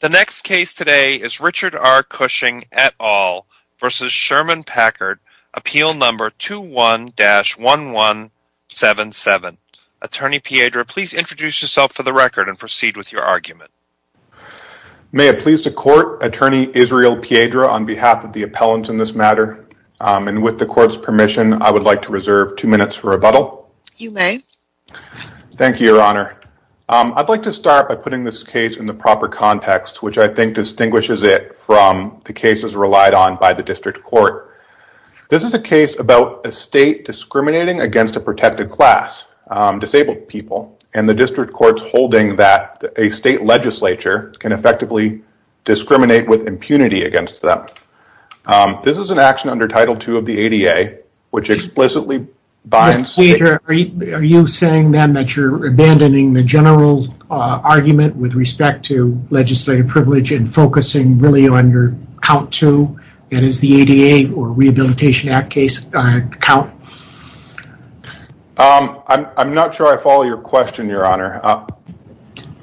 The next case today is Richard R. Cushing et al. v. Sherman Packard, Appeal No. 21-1177. Attorney Piedra, please introduce yourself for the record and proceed with your argument. May it please the Court, Attorney Israel Piedra on behalf of the appellants in this matter, and with the Court's permission, I would like to reserve two minutes for rebuttal. You may. Thank you, Your Honor. I'd like to start by putting this case in the proper context, which I think distinguishes it from the cases relied on by the district court. This is a case about a state discriminating against a protected class, disabled people, and the district court's holding that a state legislature can effectively discriminate with impunity against them. This is an action under Title II of the ADA, which explicitly binds state… Mr. Piedra, are you saying then that you're abandoning the general argument with respect to legislative privilege and focusing really on your count two, that is the ADA or Rehabilitation Act case count? I'm not sure I follow your question, Your Honor.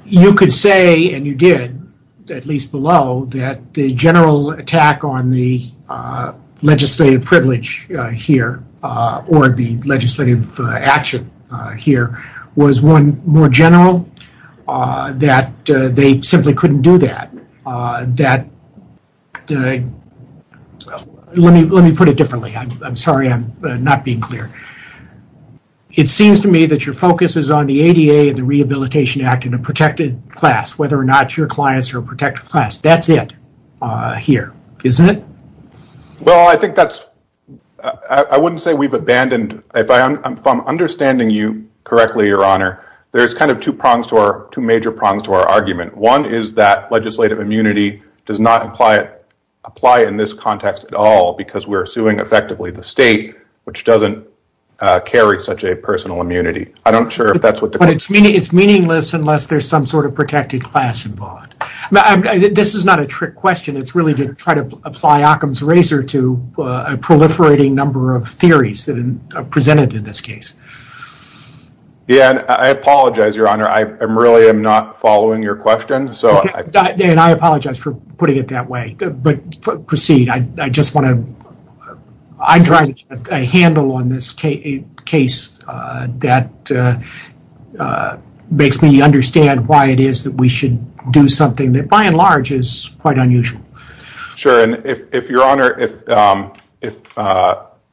You could say, and you did, at least below, that the general attack on the legislative privilege here or the legislative action here was one more general, that they simply couldn't do that. Let me put it differently. I'm sorry I'm not being clear. It seems to me that your focus is on the ADA and the Rehabilitation Act in a protected class, whether or not your clients are a protected class. That's it here, isn't it? Well, I think that's… I wouldn't say we've abandoned. If I'm understanding you correctly, Your Honor, there's kind of two major prongs to our argument. One is that legislative immunity does not apply in this context at all because we're suing effectively the state, which doesn't carry such a personal immunity. I'm not sure if that's what the… But it's meaningless unless there's some sort of protected class involved. This is not a trick question. It's really to try to apply Occam's Razor to a proliferating number of theories presented in this case. Yeah, and I apologize, Your Honor. I really am not following your question. And I apologize for putting it that way, but proceed. I'm trying to get a handle on this case that makes me understand why it is that we should do something that, by and large, is quite unusual. Sure, and if Your Honor…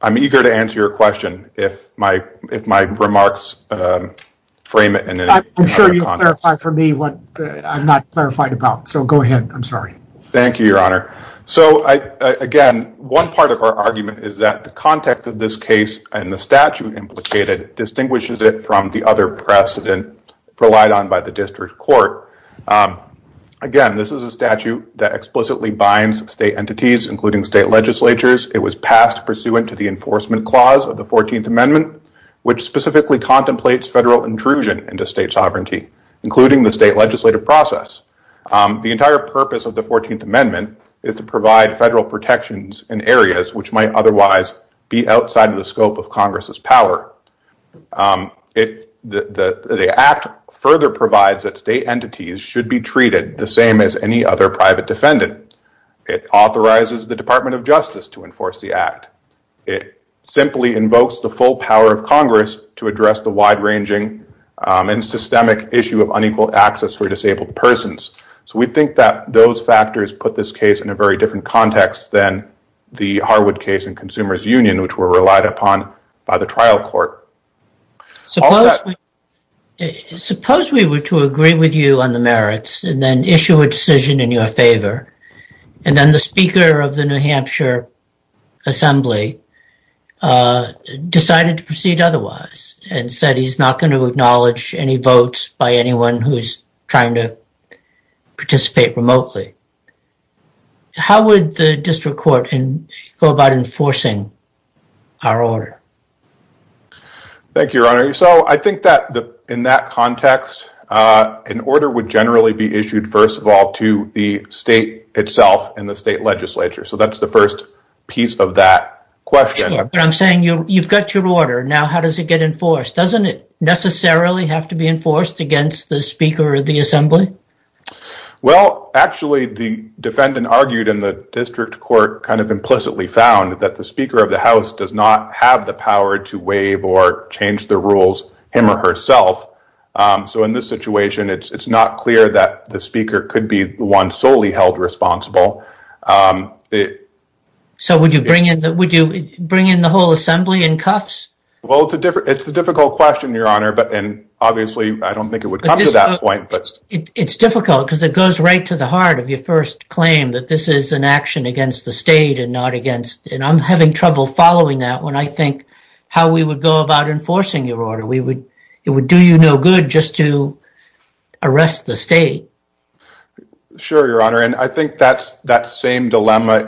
I'm eager to answer your question if my remarks frame it. I'm sure you'll clarify for me what I'm not clarified about, so go ahead. I'm sorry. Thank you, Your Honor. So, again, one part of our argument is that the context of this case and the statute implicated distinguishes it from the other precedent relied on by the district court. Again, this is a statute that explicitly binds state entities, including state legislatures. It was passed pursuant to the enforcement clause of the 14th Amendment, which specifically contemplates federal intrusion into state sovereignty, including the state legislative process. The entire purpose of the 14th Amendment is to provide federal protections in areas which might otherwise be outside of the scope of Congress's power. The Act further provides that state entities should be treated the same as any other private defendant. It authorizes the Department of Justice to enforce the Act. It simply invokes the full power of Congress to address the wide-ranging and systemic issue of unequal access for disabled persons. So we think that those factors put this case in a very different context than the Harwood case in Consumers Union, which were relied upon by the trial court. Suppose we were to agree with you on the merits and then issue a decision in your favor, and then the Speaker of the New Hampshire Assembly decided to proceed otherwise and said he's not going to acknowledge any votes by anyone who is trying to participate remotely. How would the district court go about enforcing our order? Thank you, Your Honor. So I think that in that context, an order would generally be issued, first of all, to the state itself and the state legislature. So that's the first piece of that question. But I'm saying you've got your order. Now how does it get enforced? Doesn't it necessarily have to be enforced against the Speaker of the Assembly? Well, actually, the defendant argued and the district court kind of implicitly found that the Speaker of the House does not have the power to waive or change the rules him or herself. So in this situation, it's not clear that the Speaker could be the one solely held responsible. So would you bring in the whole assembly in cuffs? Well, it's a difficult question, Your Honor. And obviously, I don't think it would come to that point. It's difficult because it goes right to the heart of your first claim that this is an action against the state and I'm having trouble following that when I think how we would go about enforcing your order. It would do you no good just to arrest the state. Sure, Your Honor. And I think that same dilemma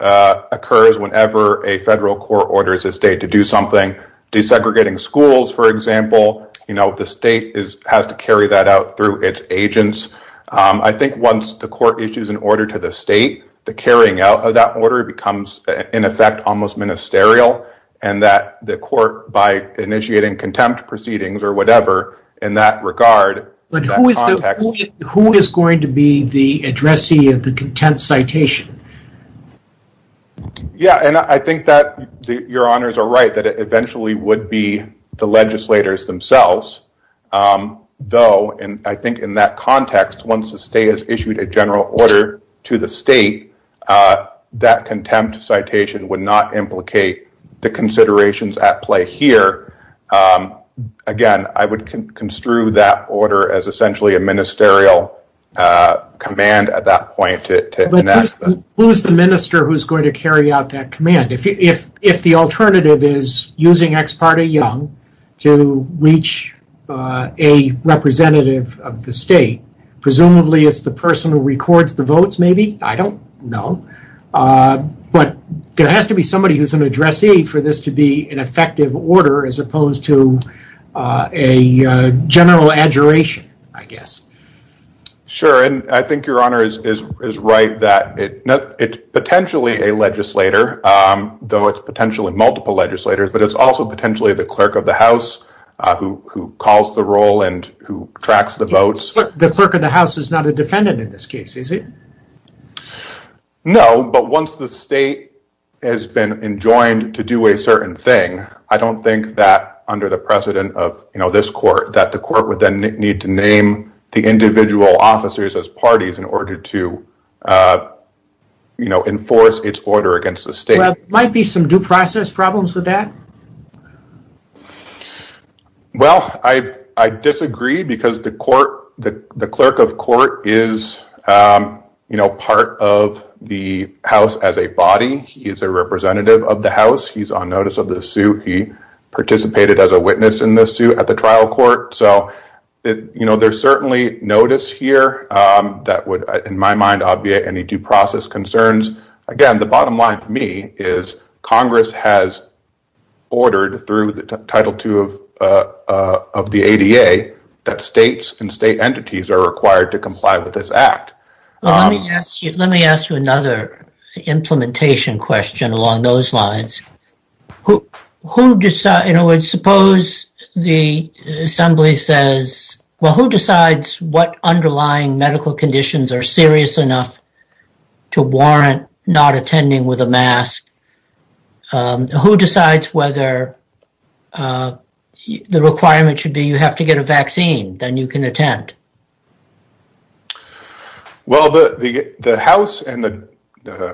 occurs whenever a federal court orders a state to do something. Desegregating schools, for example, the state has to carry that out through its agents. I think once the court issues an order to the state, the carrying out of that order becomes, in effect, almost ministerial and that the court, by initiating contempt proceedings or whatever in that regard, But who is going to be the addressee of the contempt citation? Yeah, and I think that your honors are right, that it eventually would be the legislators themselves. Though, and I think in that context, once the state has issued a general order to the state, that contempt citation would not implicate the considerations at play here. Again, I would construe that order as essentially a ministerial command at that point. But who is the minister who is going to carry out that command? If the alternative is using Ex parte Young to reach a representative of the state, presumably it's the person who records the votes, maybe? I don't know. But there has to be somebody who's an addressee for this to be an effective order, as opposed to a general adjuration, I guess. Sure, and I think your honor is right that it's potentially a legislator, though it's potentially multiple legislators, but it's also potentially the clerk of the house who calls the roll and who tracks the votes. The clerk of the house is not a defendant in this case, is he? No, but once the state has been enjoined to do a certain thing, I don't think that under the precedent of this court, that the court would then need to name the individual officers as parties in order to enforce its order against the state. There might be some due process problems with that? Well, I disagree because the clerk of court is part of the house as a body. He is a representative of the house. He's on notice of the suit. He participated as a witness in the suit at the trial court. So there's certainly notice here that would, in my mind, obviate any due process concerns. Again, the bottom line to me is Congress has ordered through the Title II of the ADA that states and state entities are required to comply with this act. Let me ask you another implementation question along those lines. In other words, suppose the assembly says, well, who decides what underlying medical conditions are serious enough to warrant not attending with a mask? Who decides whether the requirement should be you have to get a vaccine, then you can attend? Well, the house and the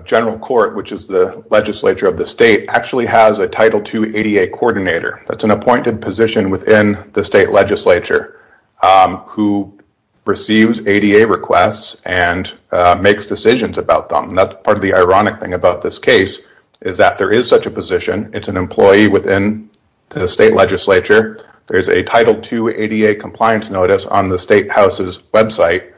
general court, which is the legislature of the state, actually has a Title II ADA coordinator. That's an appointed position within the state legislature who receives ADA requests and makes decisions about them. Part of the ironic thing about this case is that there is such a position. It's an employee within the state legislature. There's a Title II ADA compliance notice on the state house's website.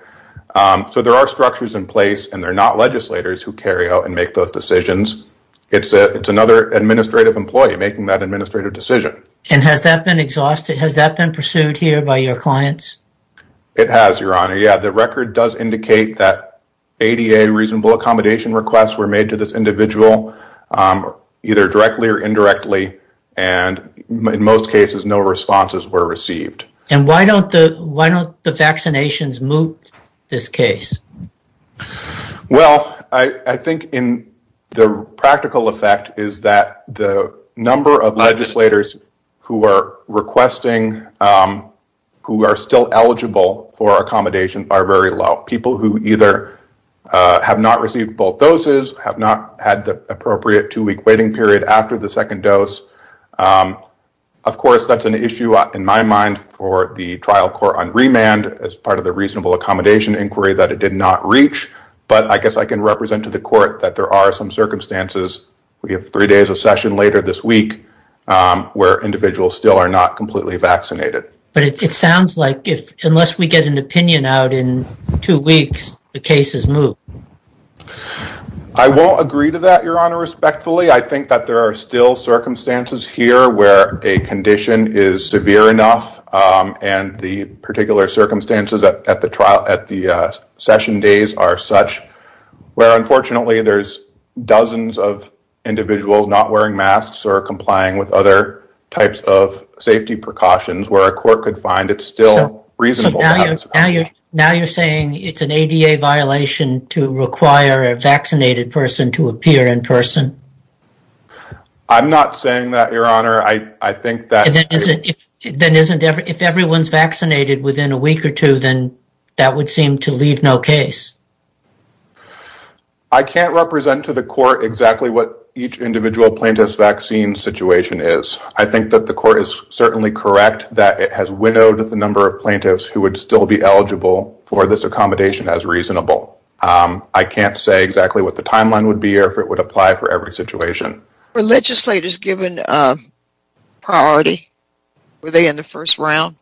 So there are structures in place, and they're not legislators who carry out and make those decisions. It's another administrative employee making that administrative decision. And has that been exhausted? Has that been pursued here by your clients? It has, Your Honor. Yeah, the record does indicate that ADA reasonable accommodation requests were made to this individual, either directly or indirectly. And in most cases, no responses were received. And why don't the vaccinations move this case? Well, I think the practical effect is that the number of legislators who are requesting, who are still eligible for accommodation, are very low. People who either have not received both doses, have not had the appropriate two-week waiting period after the second dose. Of course, that's an issue, in my mind, for the trial court on remand, as part of the reasonable accommodation inquiry, that it did not reach. But I guess I can represent to the court that there are some circumstances. We have three days of session later this week where individuals still are not completely vaccinated. But it sounds like unless we get an opinion out in two weeks, the case is moved. I won't agree to that, Your Honor, respectfully. I think that there are still circumstances here where a condition is severe enough, and the particular circumstances at the session days are such, where unfortunately there's dozens of individuals not wearing masks or complying with other types of safety precautions where a court could find it's still reasonable. So now you're saying it's an ADA violation to require a vaccinated person to appear in person? I'm not saying that, Your Honor. Then if everyone's vaccinated within a week or two, then that would seem to leave no case. I can't represent to the court exactly what each individual plaintiff's vaccine situation is. I think that the court is certainly correct that it has widowed the number of plaintiffs who would still be eligible for this accommodation as reasonable. I can't say exactly what the timeline would be or if it would apply for every situation. Were legislators given priority? Were they in the first round?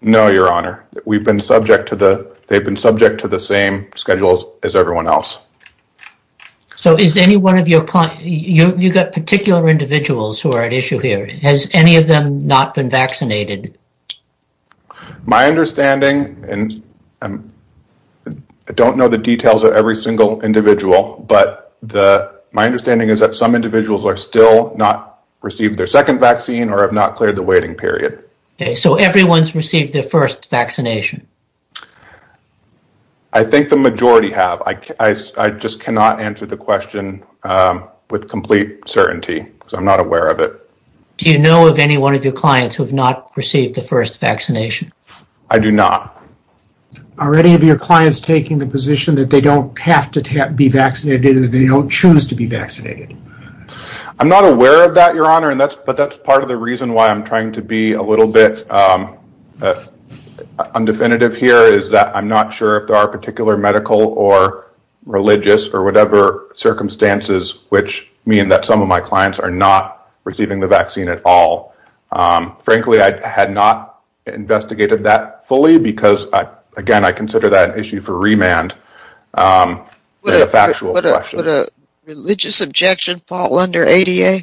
No, Your Honor. They've been subject to the same schedules as everyone else. So you've got particular individuals who are at issue here. Has any of them not been vaccinated? My understanding, and I don't know the details of every single individual, but my understanding is that some individuals have still not received their second vaccine or have not cleared the waiting period. So everyone's received their first vaccination? I think the majority have. I just cannot answer the question with complete certainty. I'm not aware of it. Do you know of any one of your clients who have not received the first vaccination? I do not. Are any of your clients taking the position that they don't have to be vaccinated or that they don't choose to be vaccinated? I'm not aware of that, Your Honor, but that's part of the reason why I'm trying to be a little bit undefinitive here is that I'm not sure if there are particular medical or religious or whatever circumstances which mean that some of my clients are not receiving the vaccine at all. Frankly, I had not investigated that fully because, again, I consider that an issue for remand. Would a religious objection fall under ADA?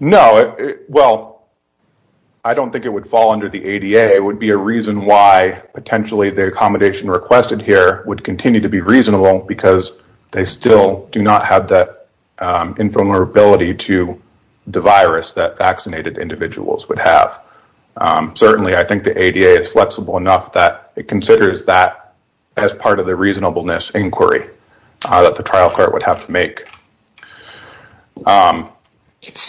No. Well, I don't think it would fall under the ADA. It would be a reason why potentially the accommodation requested here would continue to be reasonable because they still do not have that invulnerability to the virus that vaccinated individuals would have. Certainly, I think the ADA is flexible enough that it considers that as part of the reasonableness inquiry that the trial court would have to make. It's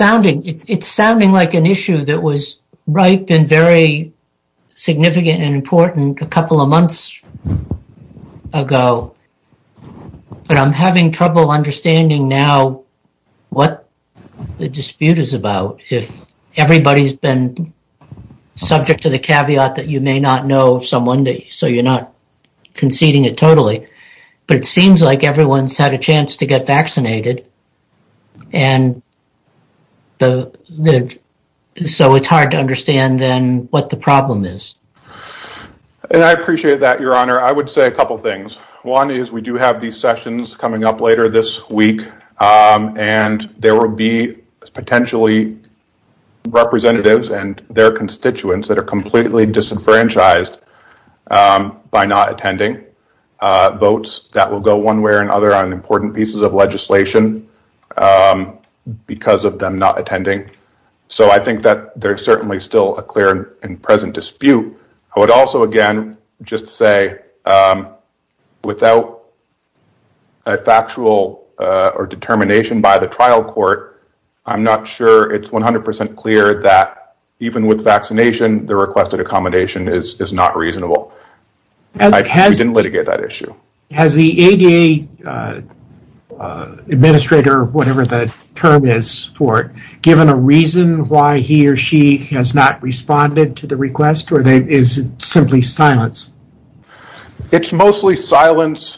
sounding like an issue that was ripe and very significant and important a couple of months ago, but I'm having trouble understanding now what the dispute is about. If everybody's been subject to the caveat that you may not know someone, so you're not conceding it totally, but it seems like everyone's had a chance to get vaccinated, so it's hard to understand then what the problem is. I appreciate that, Your Honor. I would say a couple of things. One is we do have these sessions coming up later this week, and there will be potentially representatives and their constituents that are completely disenfranchised by not attending. Votes that will go one way or another on important pieces of legislation because of them not attending. So I think that there's certainly still a clear and present dispute. I would also, again, just say without a factual determination by the trial court, I'm not sure it's 100% clear that even with vaccination, the requested accommodation is not reasonable. We didn't litigate that issue. Has the ADA administrator, whatever the term is for it, given a reason why he or she has not responded to the request, or is it simply silence? It's mostly silence,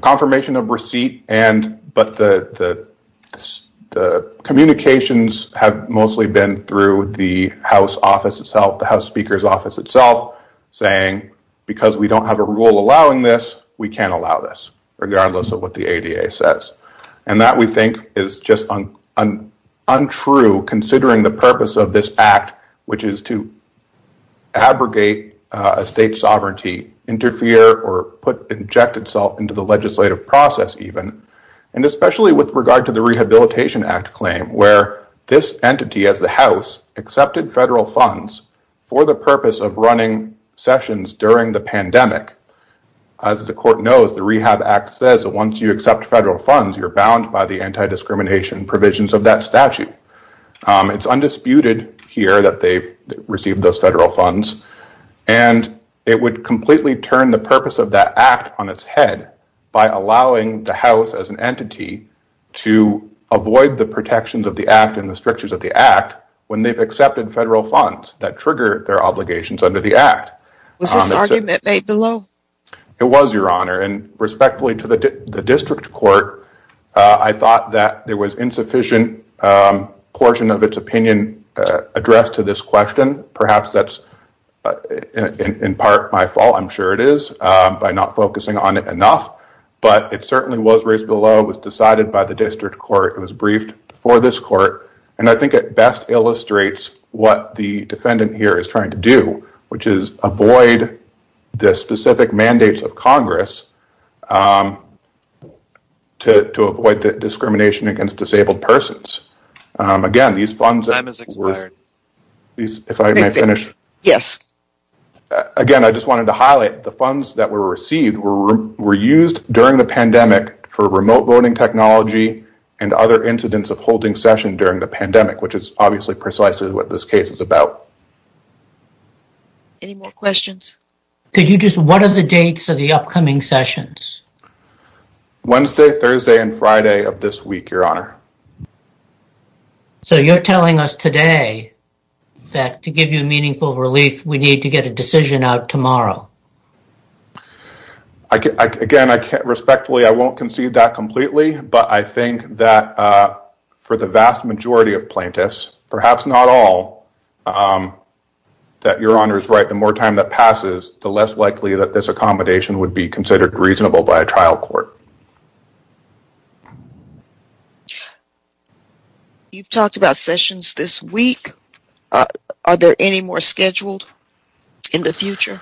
confirmation of receipt, but the communications have mostly been through the House office itself, the House Speaker's office itself, saying because we don't have a rule allowing this, we can't allow this, regardless of what the ADA says. That, we think, is just untrue considering the purpose of this act, which is to abrogate a state sovereignty, interfere or inject itself into the legislative process even, and especially with regard to the Rehabilitation Act claim where this entity, as the House, accepted federal funds for the purpose of running sessions during the pandemic. As the court knows, the Rehab Act says that once you accept federal funds, you're bound by the anti-discrimination provisions of that statute. It's undisputed here that they've received those federal funds, and it would completely turn the purpose of that act on its head by allowing the House, as an entity, to avoid the protections of the act and the strictures of the act when they've accepted federal funds that trigger their obligations under the act. Was this argument made below? It was, Your Honor, and respectfully to the district court, I thought that there was insufficient portion of its opinion addressed to this question. Perhaps that's, in part, my fault. I'm sure it is, by not focusing on it enough. But it certainly was raised below. It was decided by the district court. It was briefed for this court, and I think it best illustrates what the defendant here is trying to do, which is avoid the specific mandates of Congress to avoid discrimination against disabled persons. Again, I just wanted to highlight the funds that were received were used during the pandemic for remote voting technology and other incidents of holding session during the pandemic, which is obviously precisely what this case is about. Any more questions? What are the dates of the upcoming sessions? Wednesday, Thursday, and Friday of this week, Your Honor. So you're telling us today that to give you meaningful relief, we need to get a decision out tomorrow. But I think that for the vast majority of plaintiffs, perhaps not all, that Your Honor is right, the more time that passes, the less likely that this accommodation would be considered reasonable by a trial court. You've talked about sessions this week. Are there any more scheduled in the future?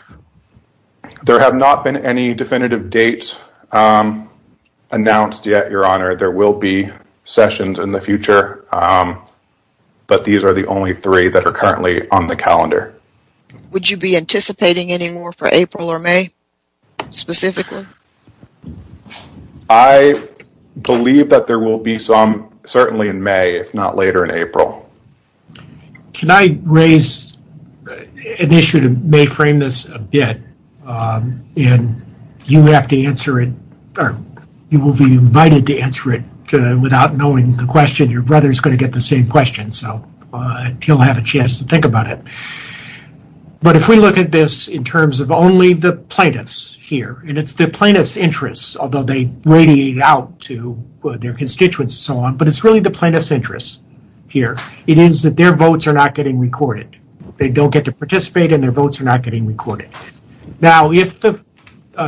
There have not been any definitive dates announced yet, Your Honor. There will be sessions in the future, but these are the only three that are currently on the calendar. Would you be anticipating any more for April or May specifically? I believe that there will be some certainly in May, if not later in April. Can I raise an issue that may frame this a bit? And you have to answer it, or you will be invited to answer it without knowing the question. Your brother is going to get the same question, so he'll have a chance to think about it. But if we look at this in terms of only the plaintiffs here, and it's the plaintiffs' interests, although they radiate out to their constituents and so on, but it's really the plaintiffs' interests here. It is that their votes are not getting recorded. They don't get to participate, and their votes are not getting recorded. Now, if the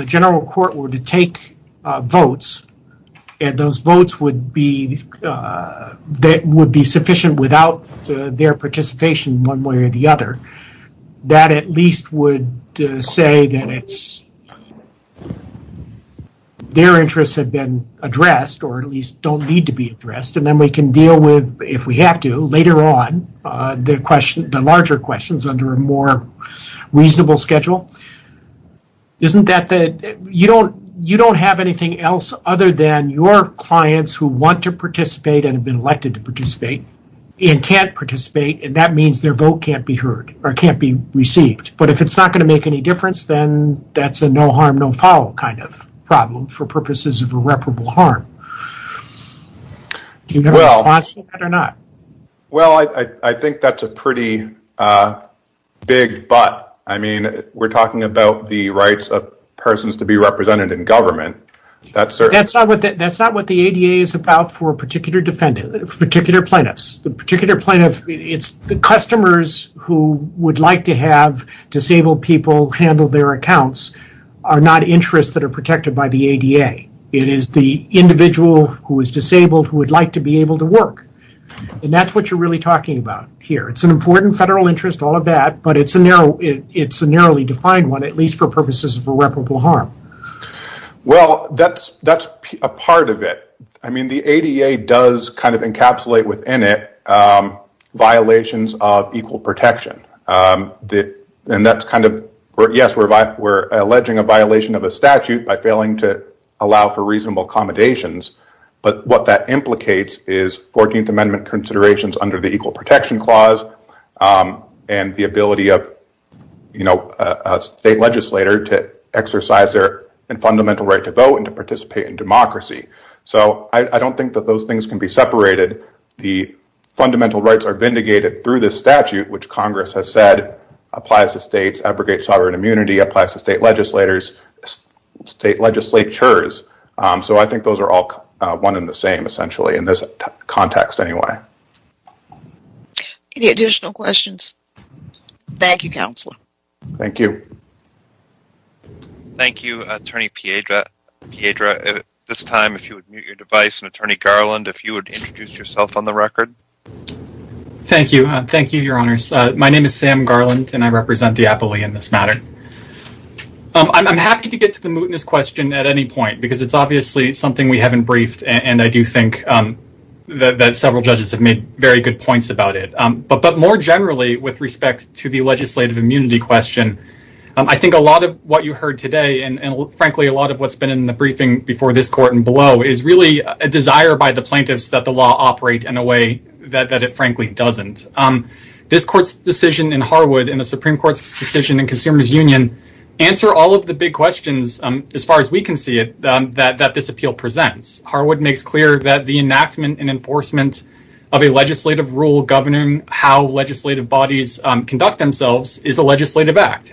general court were to take votes, and those votes would be sufficient without their participation one way or the other, that at least would say that their interests have been addressed, or at least don't need to be addressed. And then we can deal with, if we have to, later on, the larger questions under a more reasonable schedule. You don't have anything else other than your clients who want to participate and have been elected to participate and can't participate, and that means their vote can't be heard or can't be received. But if it's not going to make any difference, then that's a no harm, no foul kind of problem for purposes of irreparable harm. Do you have a response to that or not? Well, I think that's a pretty big but. I mean, we're talking about the rights of persons to be represented in government. That's not what the ADA is about for particular plaintiffs. The customers who would like to have disabled people handle their accounts are not interests that are protected by the ADA. It is the individual who is disabled who would like to be able to work, and that's what you're really talking about here. It's an important federal interest, all of that, but it's a narrowly defined one, at least for purposes of irreparable harm. Well, that's a part of it. I mean, the ADA does kind of encapsulate within it violations of equal protection, and that's kind of – yes, we're alleging a violation of a statute by failing to allow for reasonable accommodations, but what that implicates is 14th Amendment considerations under the Equal Protection Clause and the ability of a state legislator to exercise their fundamental right to vote and to participate in democracy. So I don't think that those things can be separated. The fundamental rights are vindicated through this statute, which Congress has said applies to states, abrogates sovereign immunity, applies to state legislators, state legislatures. So I think those are all one and the same, essentially, in this context anyway. Any additional questions? Thank you, Counselor. Thank you. Thank you, Attorney Piedra. At this time, if you would mute your device, and Attorney Garland, if you would introduce yourself on the record. Thank you. Thank you, Your Honors. My name is Sam Garland, and I represent the appellee in this matter. I'm happy to get to the mootness question at any point because it's obviously something we haven't briefed, and I do think that several judges have made very good points about it. But more generally, with respect to the legislative immunity question, I think a lot of what you heard today and, frankly, a lot of what's been in the briefing before this court and below is really a desire by the plaintiffs that the law operate in a way that it frankly doesn't. This court's decision in Harwood and the Supreme Court's decision in Consumers Union answer all of the big questions, as far as we can see it, that this appeal presents. Harwood makes clear that the enactment and enforcement of a legislative rule governing how legislative bodies conduct themselves is a legislative act,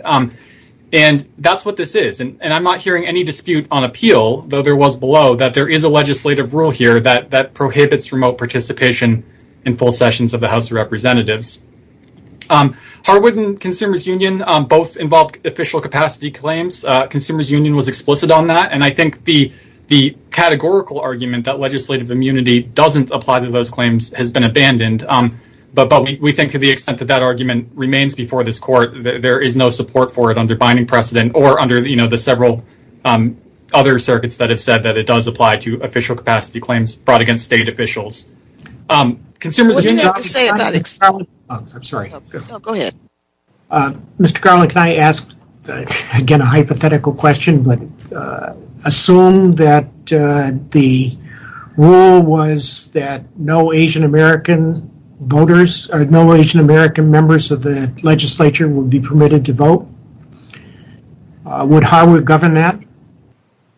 and that's what this is. And I'm not hearing any dispute on appeal, though there was below, that there is a legislative rule here that prohibits remote participation in full sessions of the House of Representatives. Harwood and Consumers Union both involved official capacity claims. Consumers Union was explicit on that, and I think the categorical argument that legislative immunity doesn't apply to those claims has been abandoned. But we think to the extent that that argument remains before this court, there is no support for it under binding precedent or under the several other circuits that have said that it does apply to official capacity claims brought against state officials. Mr. Garland, can I ask again a hypothetical question? Assume that the rule was that no Asian American members of the legislature would be permitted to vote. Would Harwood govern that?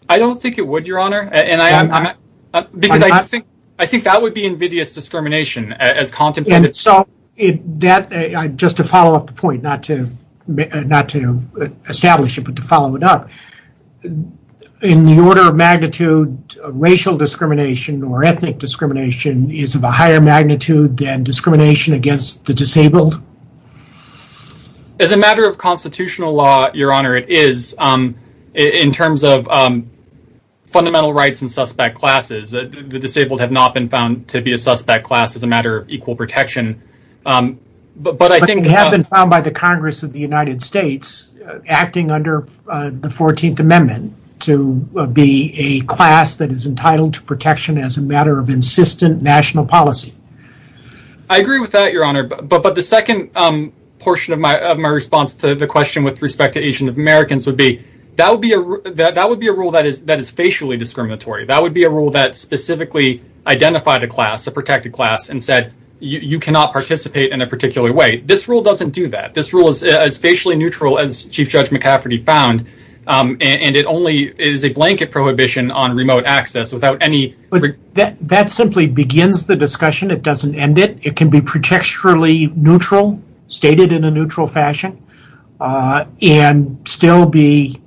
I don't think it would, Your Honor. I think that would be invidious discrimination as contemplated. Just to follow up the point, not to establish it, but to follow it up, in the order of magnitude, racial discrimination or ethnic discrimination is of a higher magnitude than discrimination against the disabled? As a matter of constitutional law, Your Honor, it is in terms of fundamental rights and suspect classes. The disabled have not been found to be a suspect class as a matter of equal protection. But they have been found by the Congress of the United States, acting under the 14th Amendment, to be a class that is entitled to protection as a matter of insistent national policy. I agree with that, Your Honor. But the second portion of my response to the question with respect to Asian Americans would be, that would be a rule that is facially discriminatory. That would be a rule that specifically identified a class, a protected class, and said, you cannot participate in a particular way. This rule doesn't do that. This rule is as facially neutral as Chief Judge McCafferty found, and it only is a blanket prohibition on remote access. That simply begins the discussion. It doesn't end it. It can be protecturally neutral, stated in a neutral fashion, and still be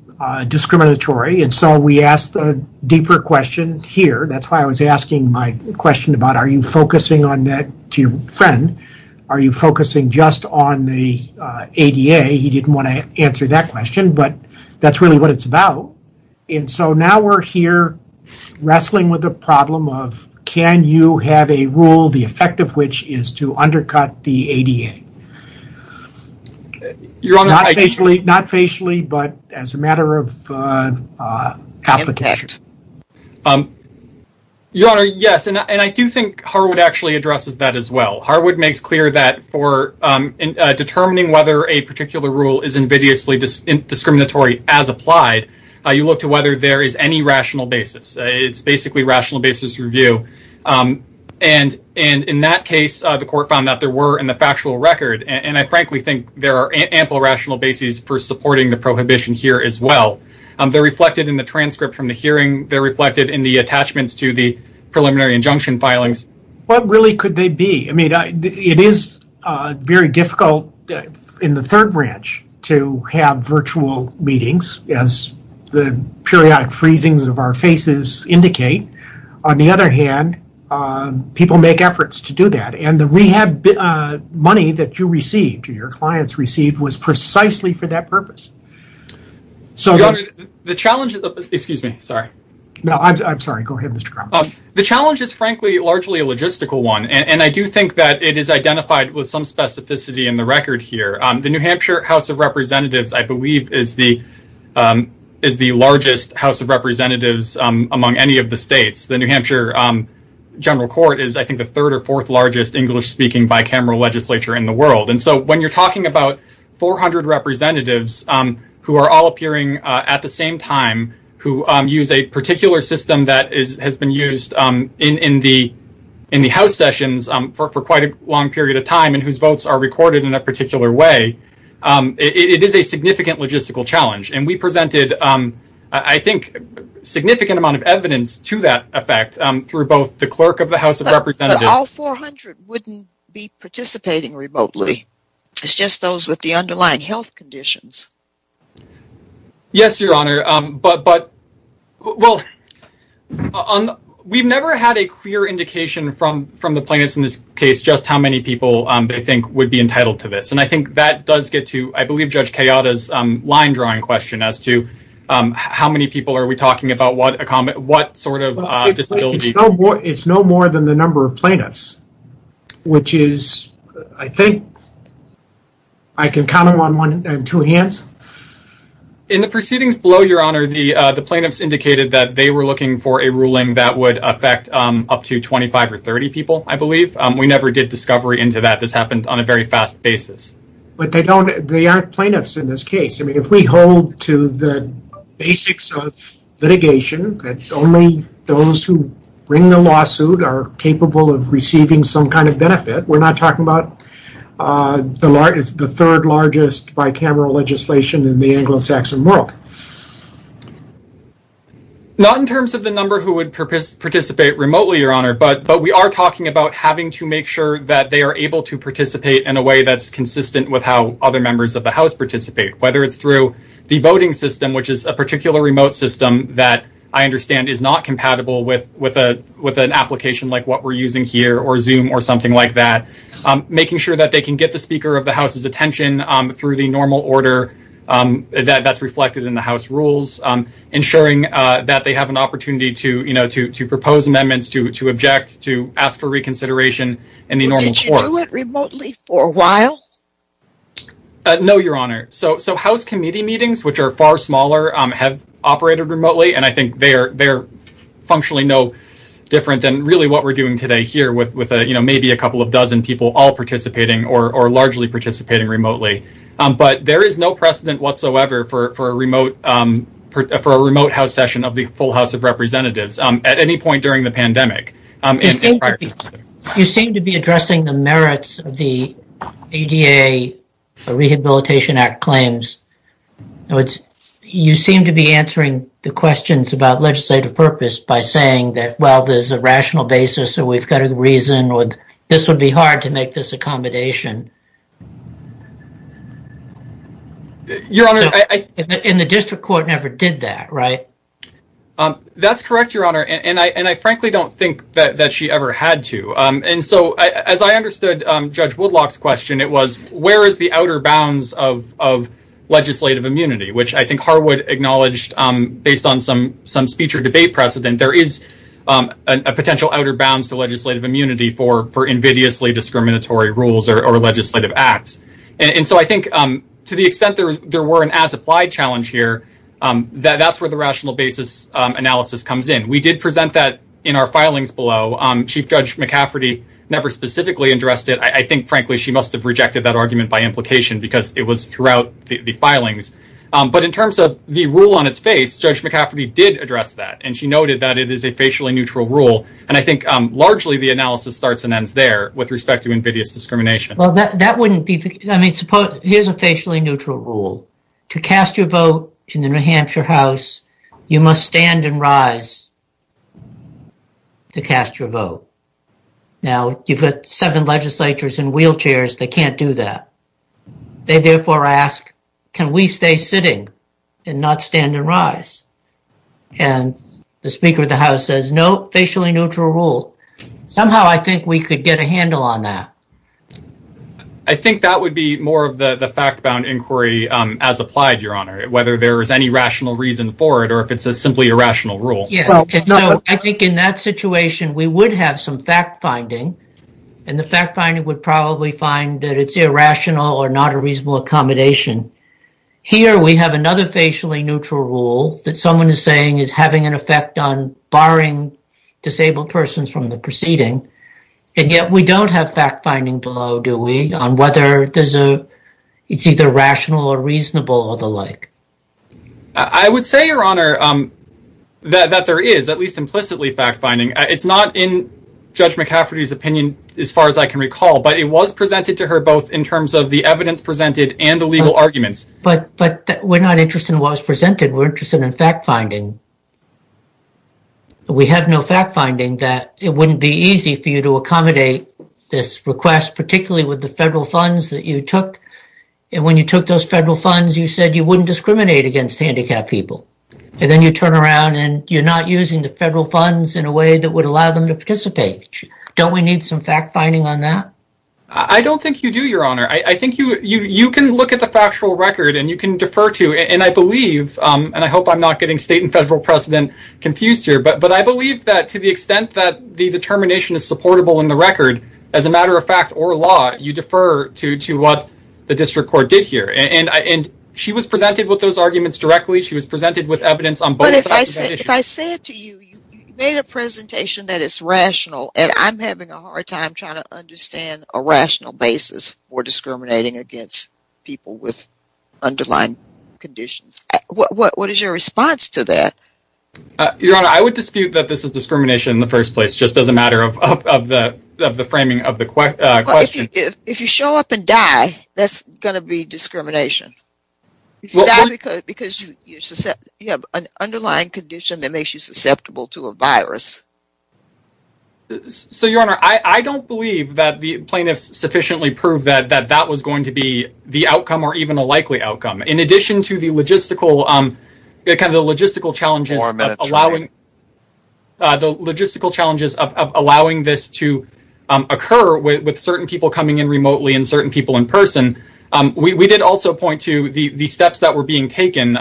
discriminatory. And so we asked a deeper question here. That's why I was asking my question about, are you focusing on that to your friend? Are you focusing just on the ADA? He didn't want to answer that question, but that's really what it's about. And so now we're here wrestling with the problem of, can you have a rule, the effect of which is to undercut the ADA? Not facially, but as a matter of application. Your Honor, yes, and I do think Harwood actually addresses that as well. Harwood makes clear that for determining whether a particular rule is invidiously discriminatory as applied, you look to whether there is any rational basis. It's basically rational basis review. And in that case, the court found that there were in the factual record, and I frankly think there are ample rational bases for supporting the prohibition here as well. They're reflected in the transcript from the hearing. They're reflected in the attachments to the preliminary injunction filings. What really could they be? It is very difficult in the third branch to have virtual meetings, as the periodic freezings of our faces indicate. On the other hand, people make efforts to do that, and the rehab money that you received or your clients received was precisely for that purpose. Excuse me, sorry. No, I'm sorry. Go ahead, Mr. Kramer. The challenge is frankly largely a logistical one, and I do think that it is identified with some specificity in the record here. The New Hampshire House of Representatives, I believe, is the largest House of Representatives among any of the states. The New Hampshire General Court is, I think, the third or fourth largest English-speaking bicameral legislature in the world. And so when you're talking about 400 representatives who are all appearing at the same time, who use a particular system that has been used in the House sessions for quite a long period of time, and whose votes are recorded in a particular way, it is a significant logistical challenge. And we presented, I think, a significant amount of evidence to that effect through both the clerk of the House of Representatives But all 400 wouldn't be participating remotely. It's just those with the underlying health conditions. Yes, Your Honor, but we've never had a clear indication from the plaintiffs in this case just how many people they think would be entitled to this. And I think that does get to, I believe, Judge Kayada's line-drawing question as to how many people are we talking about, what sort of disability... which is, I think, I can count them on two hands. In the proceedings below, Your Honor, the plaintiffs indicated that they were looking for a ruling that would affect up to 25 or 30 people, I believe. We never did discovery into that. This happened on a very fast basis. But they aren't plaintiffs in this case. I mean, if we hold to the basics of litigation, that only those who bring the lawsuit are capable of receiving some kind of benefit, we're not talking about the third largest bicameral legislation in the Anglo-Saxon world. Not in terms of the number who would participate remotely, Your Honor, but we are talking about having to make sure that they are able to participate in a way that's consistent with how other members of the House participate, whether it's through the voting system, which is a particular remote system that I understand is not compatible with an application like what we're using here, or Zoom, or something like that. Making sure that they can get the Speaker of the House's attention through the normal order that's reflected in the House rules. Ensuring that they have an opportunity to propose amendments, to object, to ask for reconsideration in the normal courts. Did you do it remotely for a while? No, Your Honor. So House committee meetings, which are far smaller, have operated remotely, and I think they're functionally no different than really what we're doing today here, with maybe a couple of dozen people all participating or largely participating remotely. But there is no precedent whatsoever for a remote House session of the full House of Representatives at any point during the pandemic. You seem to be addressing the merits of the ADA Rehabilitation Act claims. You seem to be answering the questions about legislative purpose by saying that, well, there's a rational basis, or we've got a reason, or this would be hard to make this accommodation. Your Honor, I... And the district court never did that, right? That's correct, Your Honor. And I frankly don't think that she ever had to. And so, as I understood Judge Woodlock's question, it was, where is the outer bounds of legislative immunity, which I think Harwood acknowledged based on some speech or debate precedent, there is a potential outer bounds to legislative immunity for invidiously discriminatory rules or legislative acts. And so I think to the extent there were an as-applied challenge here, that's where the rational basis analysis comes in. We did present that in our filings below. Chief Judge McCafferty never specifically addressed it. I think, frankly, she must have rejected that argument by implication because it was throughout the filings. But in terms of the rule on its face, Judge McCafferty did address that, and she noted that it is a facially neutral rule. And I think largely the analysis starts and ends there with respect to invidious discrimination. Well, that wouldn't be... I mean, here's a facially neutral rule. To cast your vote in the New Hampshire House, you must stand and rise to cast your vote. Now, you've got seven legislatures in wheelchairs that can't do that. They therefore ask, can we stay sitting and not stand and rise? And the Speaker of the House says, no, facially neutral rule. Somehow I think we could get a handle on that. I think that would be more of the fact-bound inquiry as applied, Your Honor, whether there is any rational reason for it or if it's simply a rational rule. I think in that situation we would have some fact-finding, and the fact-finding would probably find that it's irrational or not a reasonable accommodation. Here we have another facially neutral rule that someone is saying is having an effect on barring disabled persons from the proceeding. And yet we don't have fact-finding below, do we, on whether it's either rational or reasonable or the like. I would say, Your Honor, that there is, at least implicitly, fact-finding. It's not in Judge McCafferty's opinion as far as I can recall, but it was presented to her both in terms of the evidence presented and the legal arguments. But we're not interested in what was presented. We're interested in fact-finding. We have no fact-finding that it wouldn't be easy for you to accommodate this request, particularly with the federal funds that you took. And when you took those federal funds, you said you wouldn't discriminate against handicapped people. And then you turn around and you're not using the federal funds in a way that would allow them to participate. Don't we need some fact-finding on that? I don't think you do, Your Honor. I think you can look at the factual record and you can defer to it. And I believe, and I hope I'm not getting state and federal precedent confused here, but I believe that to the extent that the determination is supportable in the record, as a matter of fact or law, you defer to what the district court did here. And she was presented with those arguments directly. She was presented with evidence on both sides of that issue. But if I said to you, you made a presentation that is rational, and I'm having a hard time trying to understand a rational basis for discriminating against people with underlying conditions. What is your response to that? Your Honor, I would dispute that this is discrimination in the first place, just as a matter of the framing of the question. If you show up and die, that's going to be discrimination. You die because you have an underlying condition that makes you susceptible to a virus. So, Your Honor, I don't believe that the plaintiffs sufficiently proved that that was going to be the outcome or even a likely outcome. In addition to the logistical challenges of allowing this to occur with certain people coming in remotely and certain people in person, we did also point to the steps that were being taken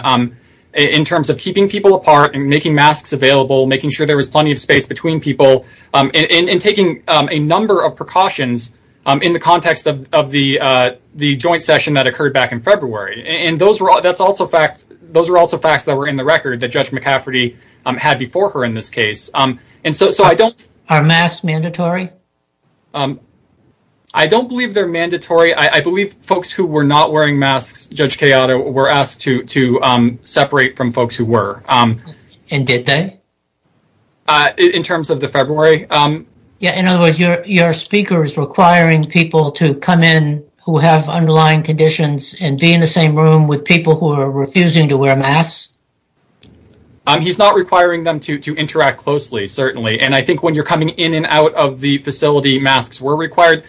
in terms of keeping people apart and making masks available, making sure there was plenty of space between people, and taking a number of precautions in the context of the joint session that occurred back in February. And those were also facts that were in the record that Judge McCafferty had before her in this case. Are masks mandatory? I don't believe they're mandatory. In terms of the February, I believe folks who were not wearing masks, Judge Cayota, were asked to separate from folks who were. And did they? In terms of the February. In other words, your speaker is requiring people to come in who have underlying conditions and be in the same room with people who are refusing to wear masks? He's not requiring them to interact closely, certainly. And I think when you're coming in and out of the facility, masks were required.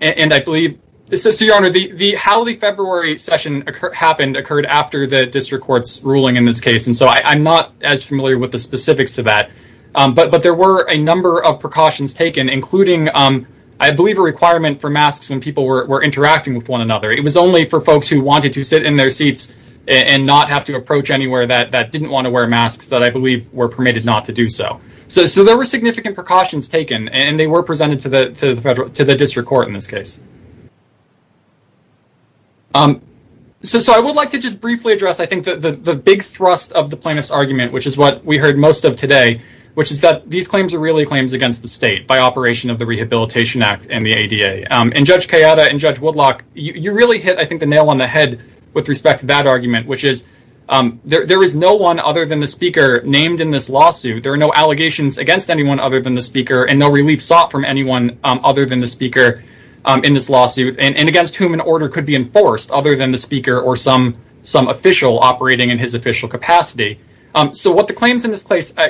So, Your Honor, how the February session happened occurred after the district court's ruling in this case. And so I'm not as familiar with the specifics of that. But there were a number of precautions taken, including, I believe, a requirement for masks when people were interacting with one another. It was only for folks who wanted to sit in their seats and not have to approach anywhere that didn't want to wear masks that I believe were permitted not to do so. So there were significant precautions taken, and they were presented to the district court in this case. So I would like to just briefly address, I think, the big thrust of the plaintiff's argument, which is what we heard most of today, which is that these claims are really claims against the state by operation of the Rehabilitation Act and the ADA. And Judge Cayota and Judge Woodlock, you really hit, I think, the nail on the head with respect to that argument, which is there is no one other than the speaker named in this lawsuit. There are no allegations against anyone other than the speaker and no relief sought from anyone other than the speaker in this lawsuit and against whom an order could be enforced other than the speaker or some official operating in his official capacity. So what the claims in this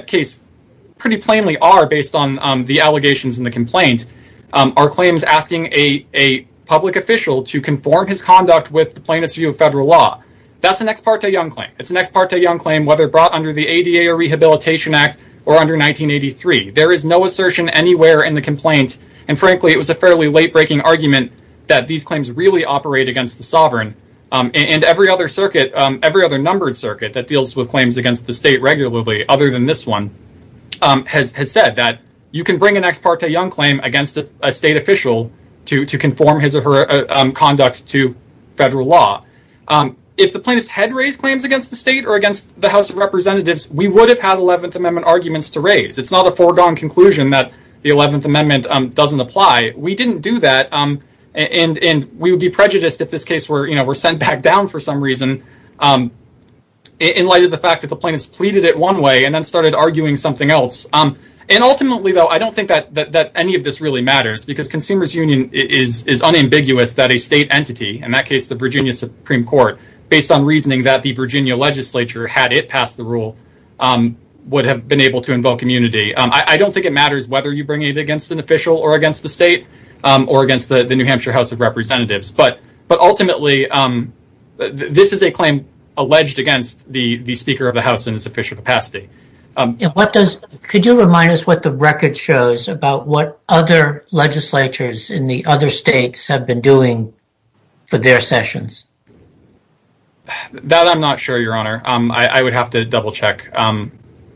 case pretty plainly are, based on the allegations in the complaint, are claims asking a public official to conform his conduct with the plaintiff's view of federal law. That's an ex parte Young claim. It's an ex parte Young claim, whether brought under the ADA or Rehabilitation Act or under 1983. There is no assertion anywhere in the complaint. And frankly, it was a fairly late breaking argument that these claims really operate against the sovereign. And every other circuit, every other numbered circuit that deals with claims against the state regularly, other than this one, has said that you can bring an ex parte Young claim against a state official to conform his or her conduct to federal law. If the plaintiffs had raised claims against the state or against the House of Representatives, we would have had Eleventh Amendment arguments to raise. It's not a foregone conclusion that the Eleventh Amendment doesn't apply. We didn't do that, and we would be prejudiced if this case were sent back down for some reason in light of the fact that the plaintiffs pleaded it one way and then started arguing something else. And ultimately, though, I don't think that any of this really matters because consumers union is unambiguous that a state entity, in that case, the Virginia Supreme Court, based on reasoning that the Virginia legislature, had it passed the rule, would have been able to invoke immunity. I don't think it matters whether you bring it against an official or against the state or against the New Hampshire House of Representatives. But ultimately, this is a claim alleged against the Speaker of the House in its official capacity. Could you remind us what the record shows about what other legislatures in the other states have been doing for their sessions? That I'm not sure, Your Honor. I would have to double-check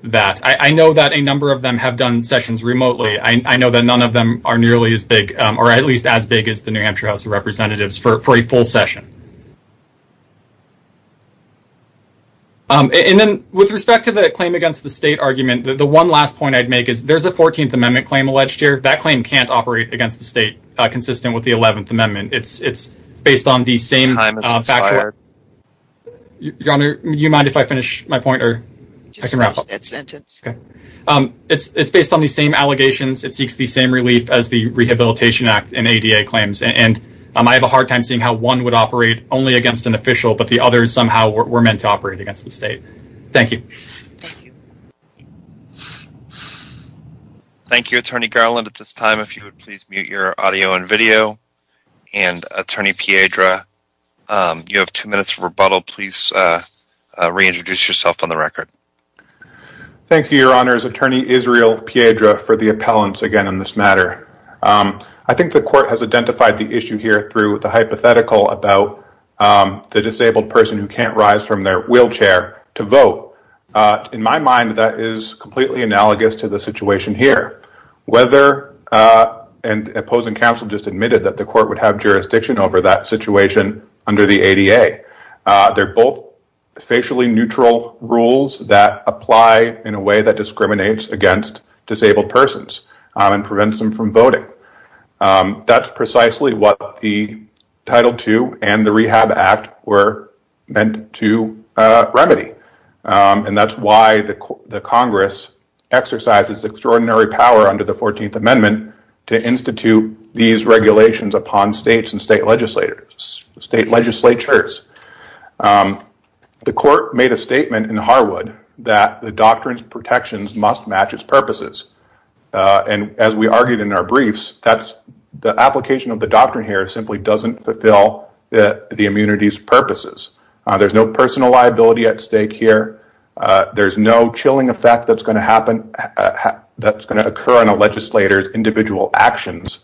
that. I know that a number of them have done sessions remotely. I know that none of them are nearly as big, or at least as big, as the New Hampshire House of Representatives for a full session. And then, with respect to the claim against the state argument, the one last point I'd make is there's a 14th Amendment claim alleged here. That claim can't operate against the state, consistent with the 11th Amendment. It's based on the same... Your Honor, do you mind if I finish my point? It's based on the same allegations. It seeks the same relief as the Rehabilitation Act and ADA claims. And I have a hard time seeing how one would operate only against an official, but the others somehow were meant to operate against the state. Thank you. Thank you, Attorney Garland. At this time, if you would please mute your audio and video. And, Attorney Piedra, you have two minutes for rebuttal. Please reintroduce yourself on the record. Thank you, Your Honor. It's Attorney Israel Piedra for the appellants, again, on this matter. I think the court has identified the issue here through the hypothetical about the disabled person who can't rise from their wheelchair to vote. In my mind, that is completely analogous to the situation here. Whether... And opposing counsel just admitted that the court would have jurisdiction over that situation under the ADA. They're both facially neutral rules that apply in a way that discriminates against disabled persons and prevents them from voting. That's precisely what the Title II and the Rehab Act were meant to remedy. And that's why the Congress exercises extraordinary power under the 14th Amendment to institute these regulations upon states and state legislatures. The court made a statement in Harwood that the doctrines and protections must match its purposes. And as we argued in our briefs, the application of the doctrine here simply doesn't fulfill the immunity's purposes. There's no personal liability at stake here. There's no chilling effect that's going to occur on a legislator's individual actions.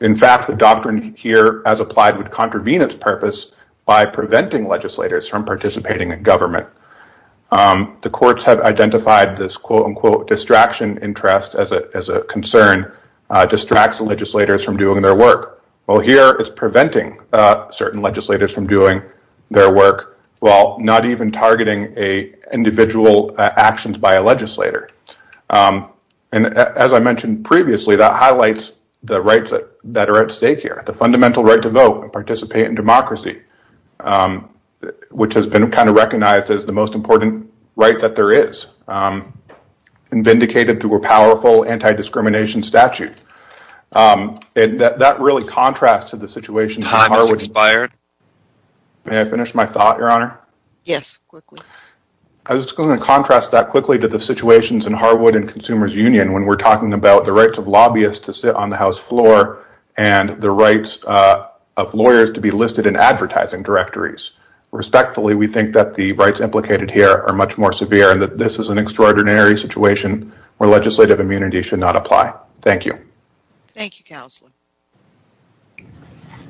In fact, the doctrine here as applied would contravene its purpose by preventing legislators from participating in government. The courts have identified this quote-unquote distraction interest as a concern, distracts the legislators from doing their work. Well, here it's preventing certain legislators from doing their work, while not even targeting individual actions by a legislator. And as I mentioned previously, that highlights the rights that are at stake here, the fundamental right to vote and participate in democracy, which has been kind of recognized as the most important right that there is, and vindicated through a powerful anti-discrimination statute. And that really contrasts to the situation in Harwood. May I finish my thought, Your Honor? Yes, quickly. I was just going to contrast that quickly to the situations in Harwood and Consumers Union when we're talking about the rights of lobbyists to sit on the House floor and the rights of lawyers to be listed in advertising directories. Respectfully, we think that the rights implicated here are much more severe and that this is an extraordinary situation where legislative immunity should not apply. Thank you. Thank you, Counselor.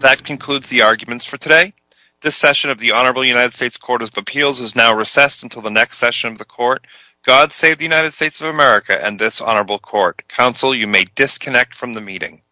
That concludes the arguments for today. This session of the Honorable United States Court of Appeals is now recessed until the next session of the Court. God save the United States of America and this Honorable Court. Counsel, you may disconnect from the meeting.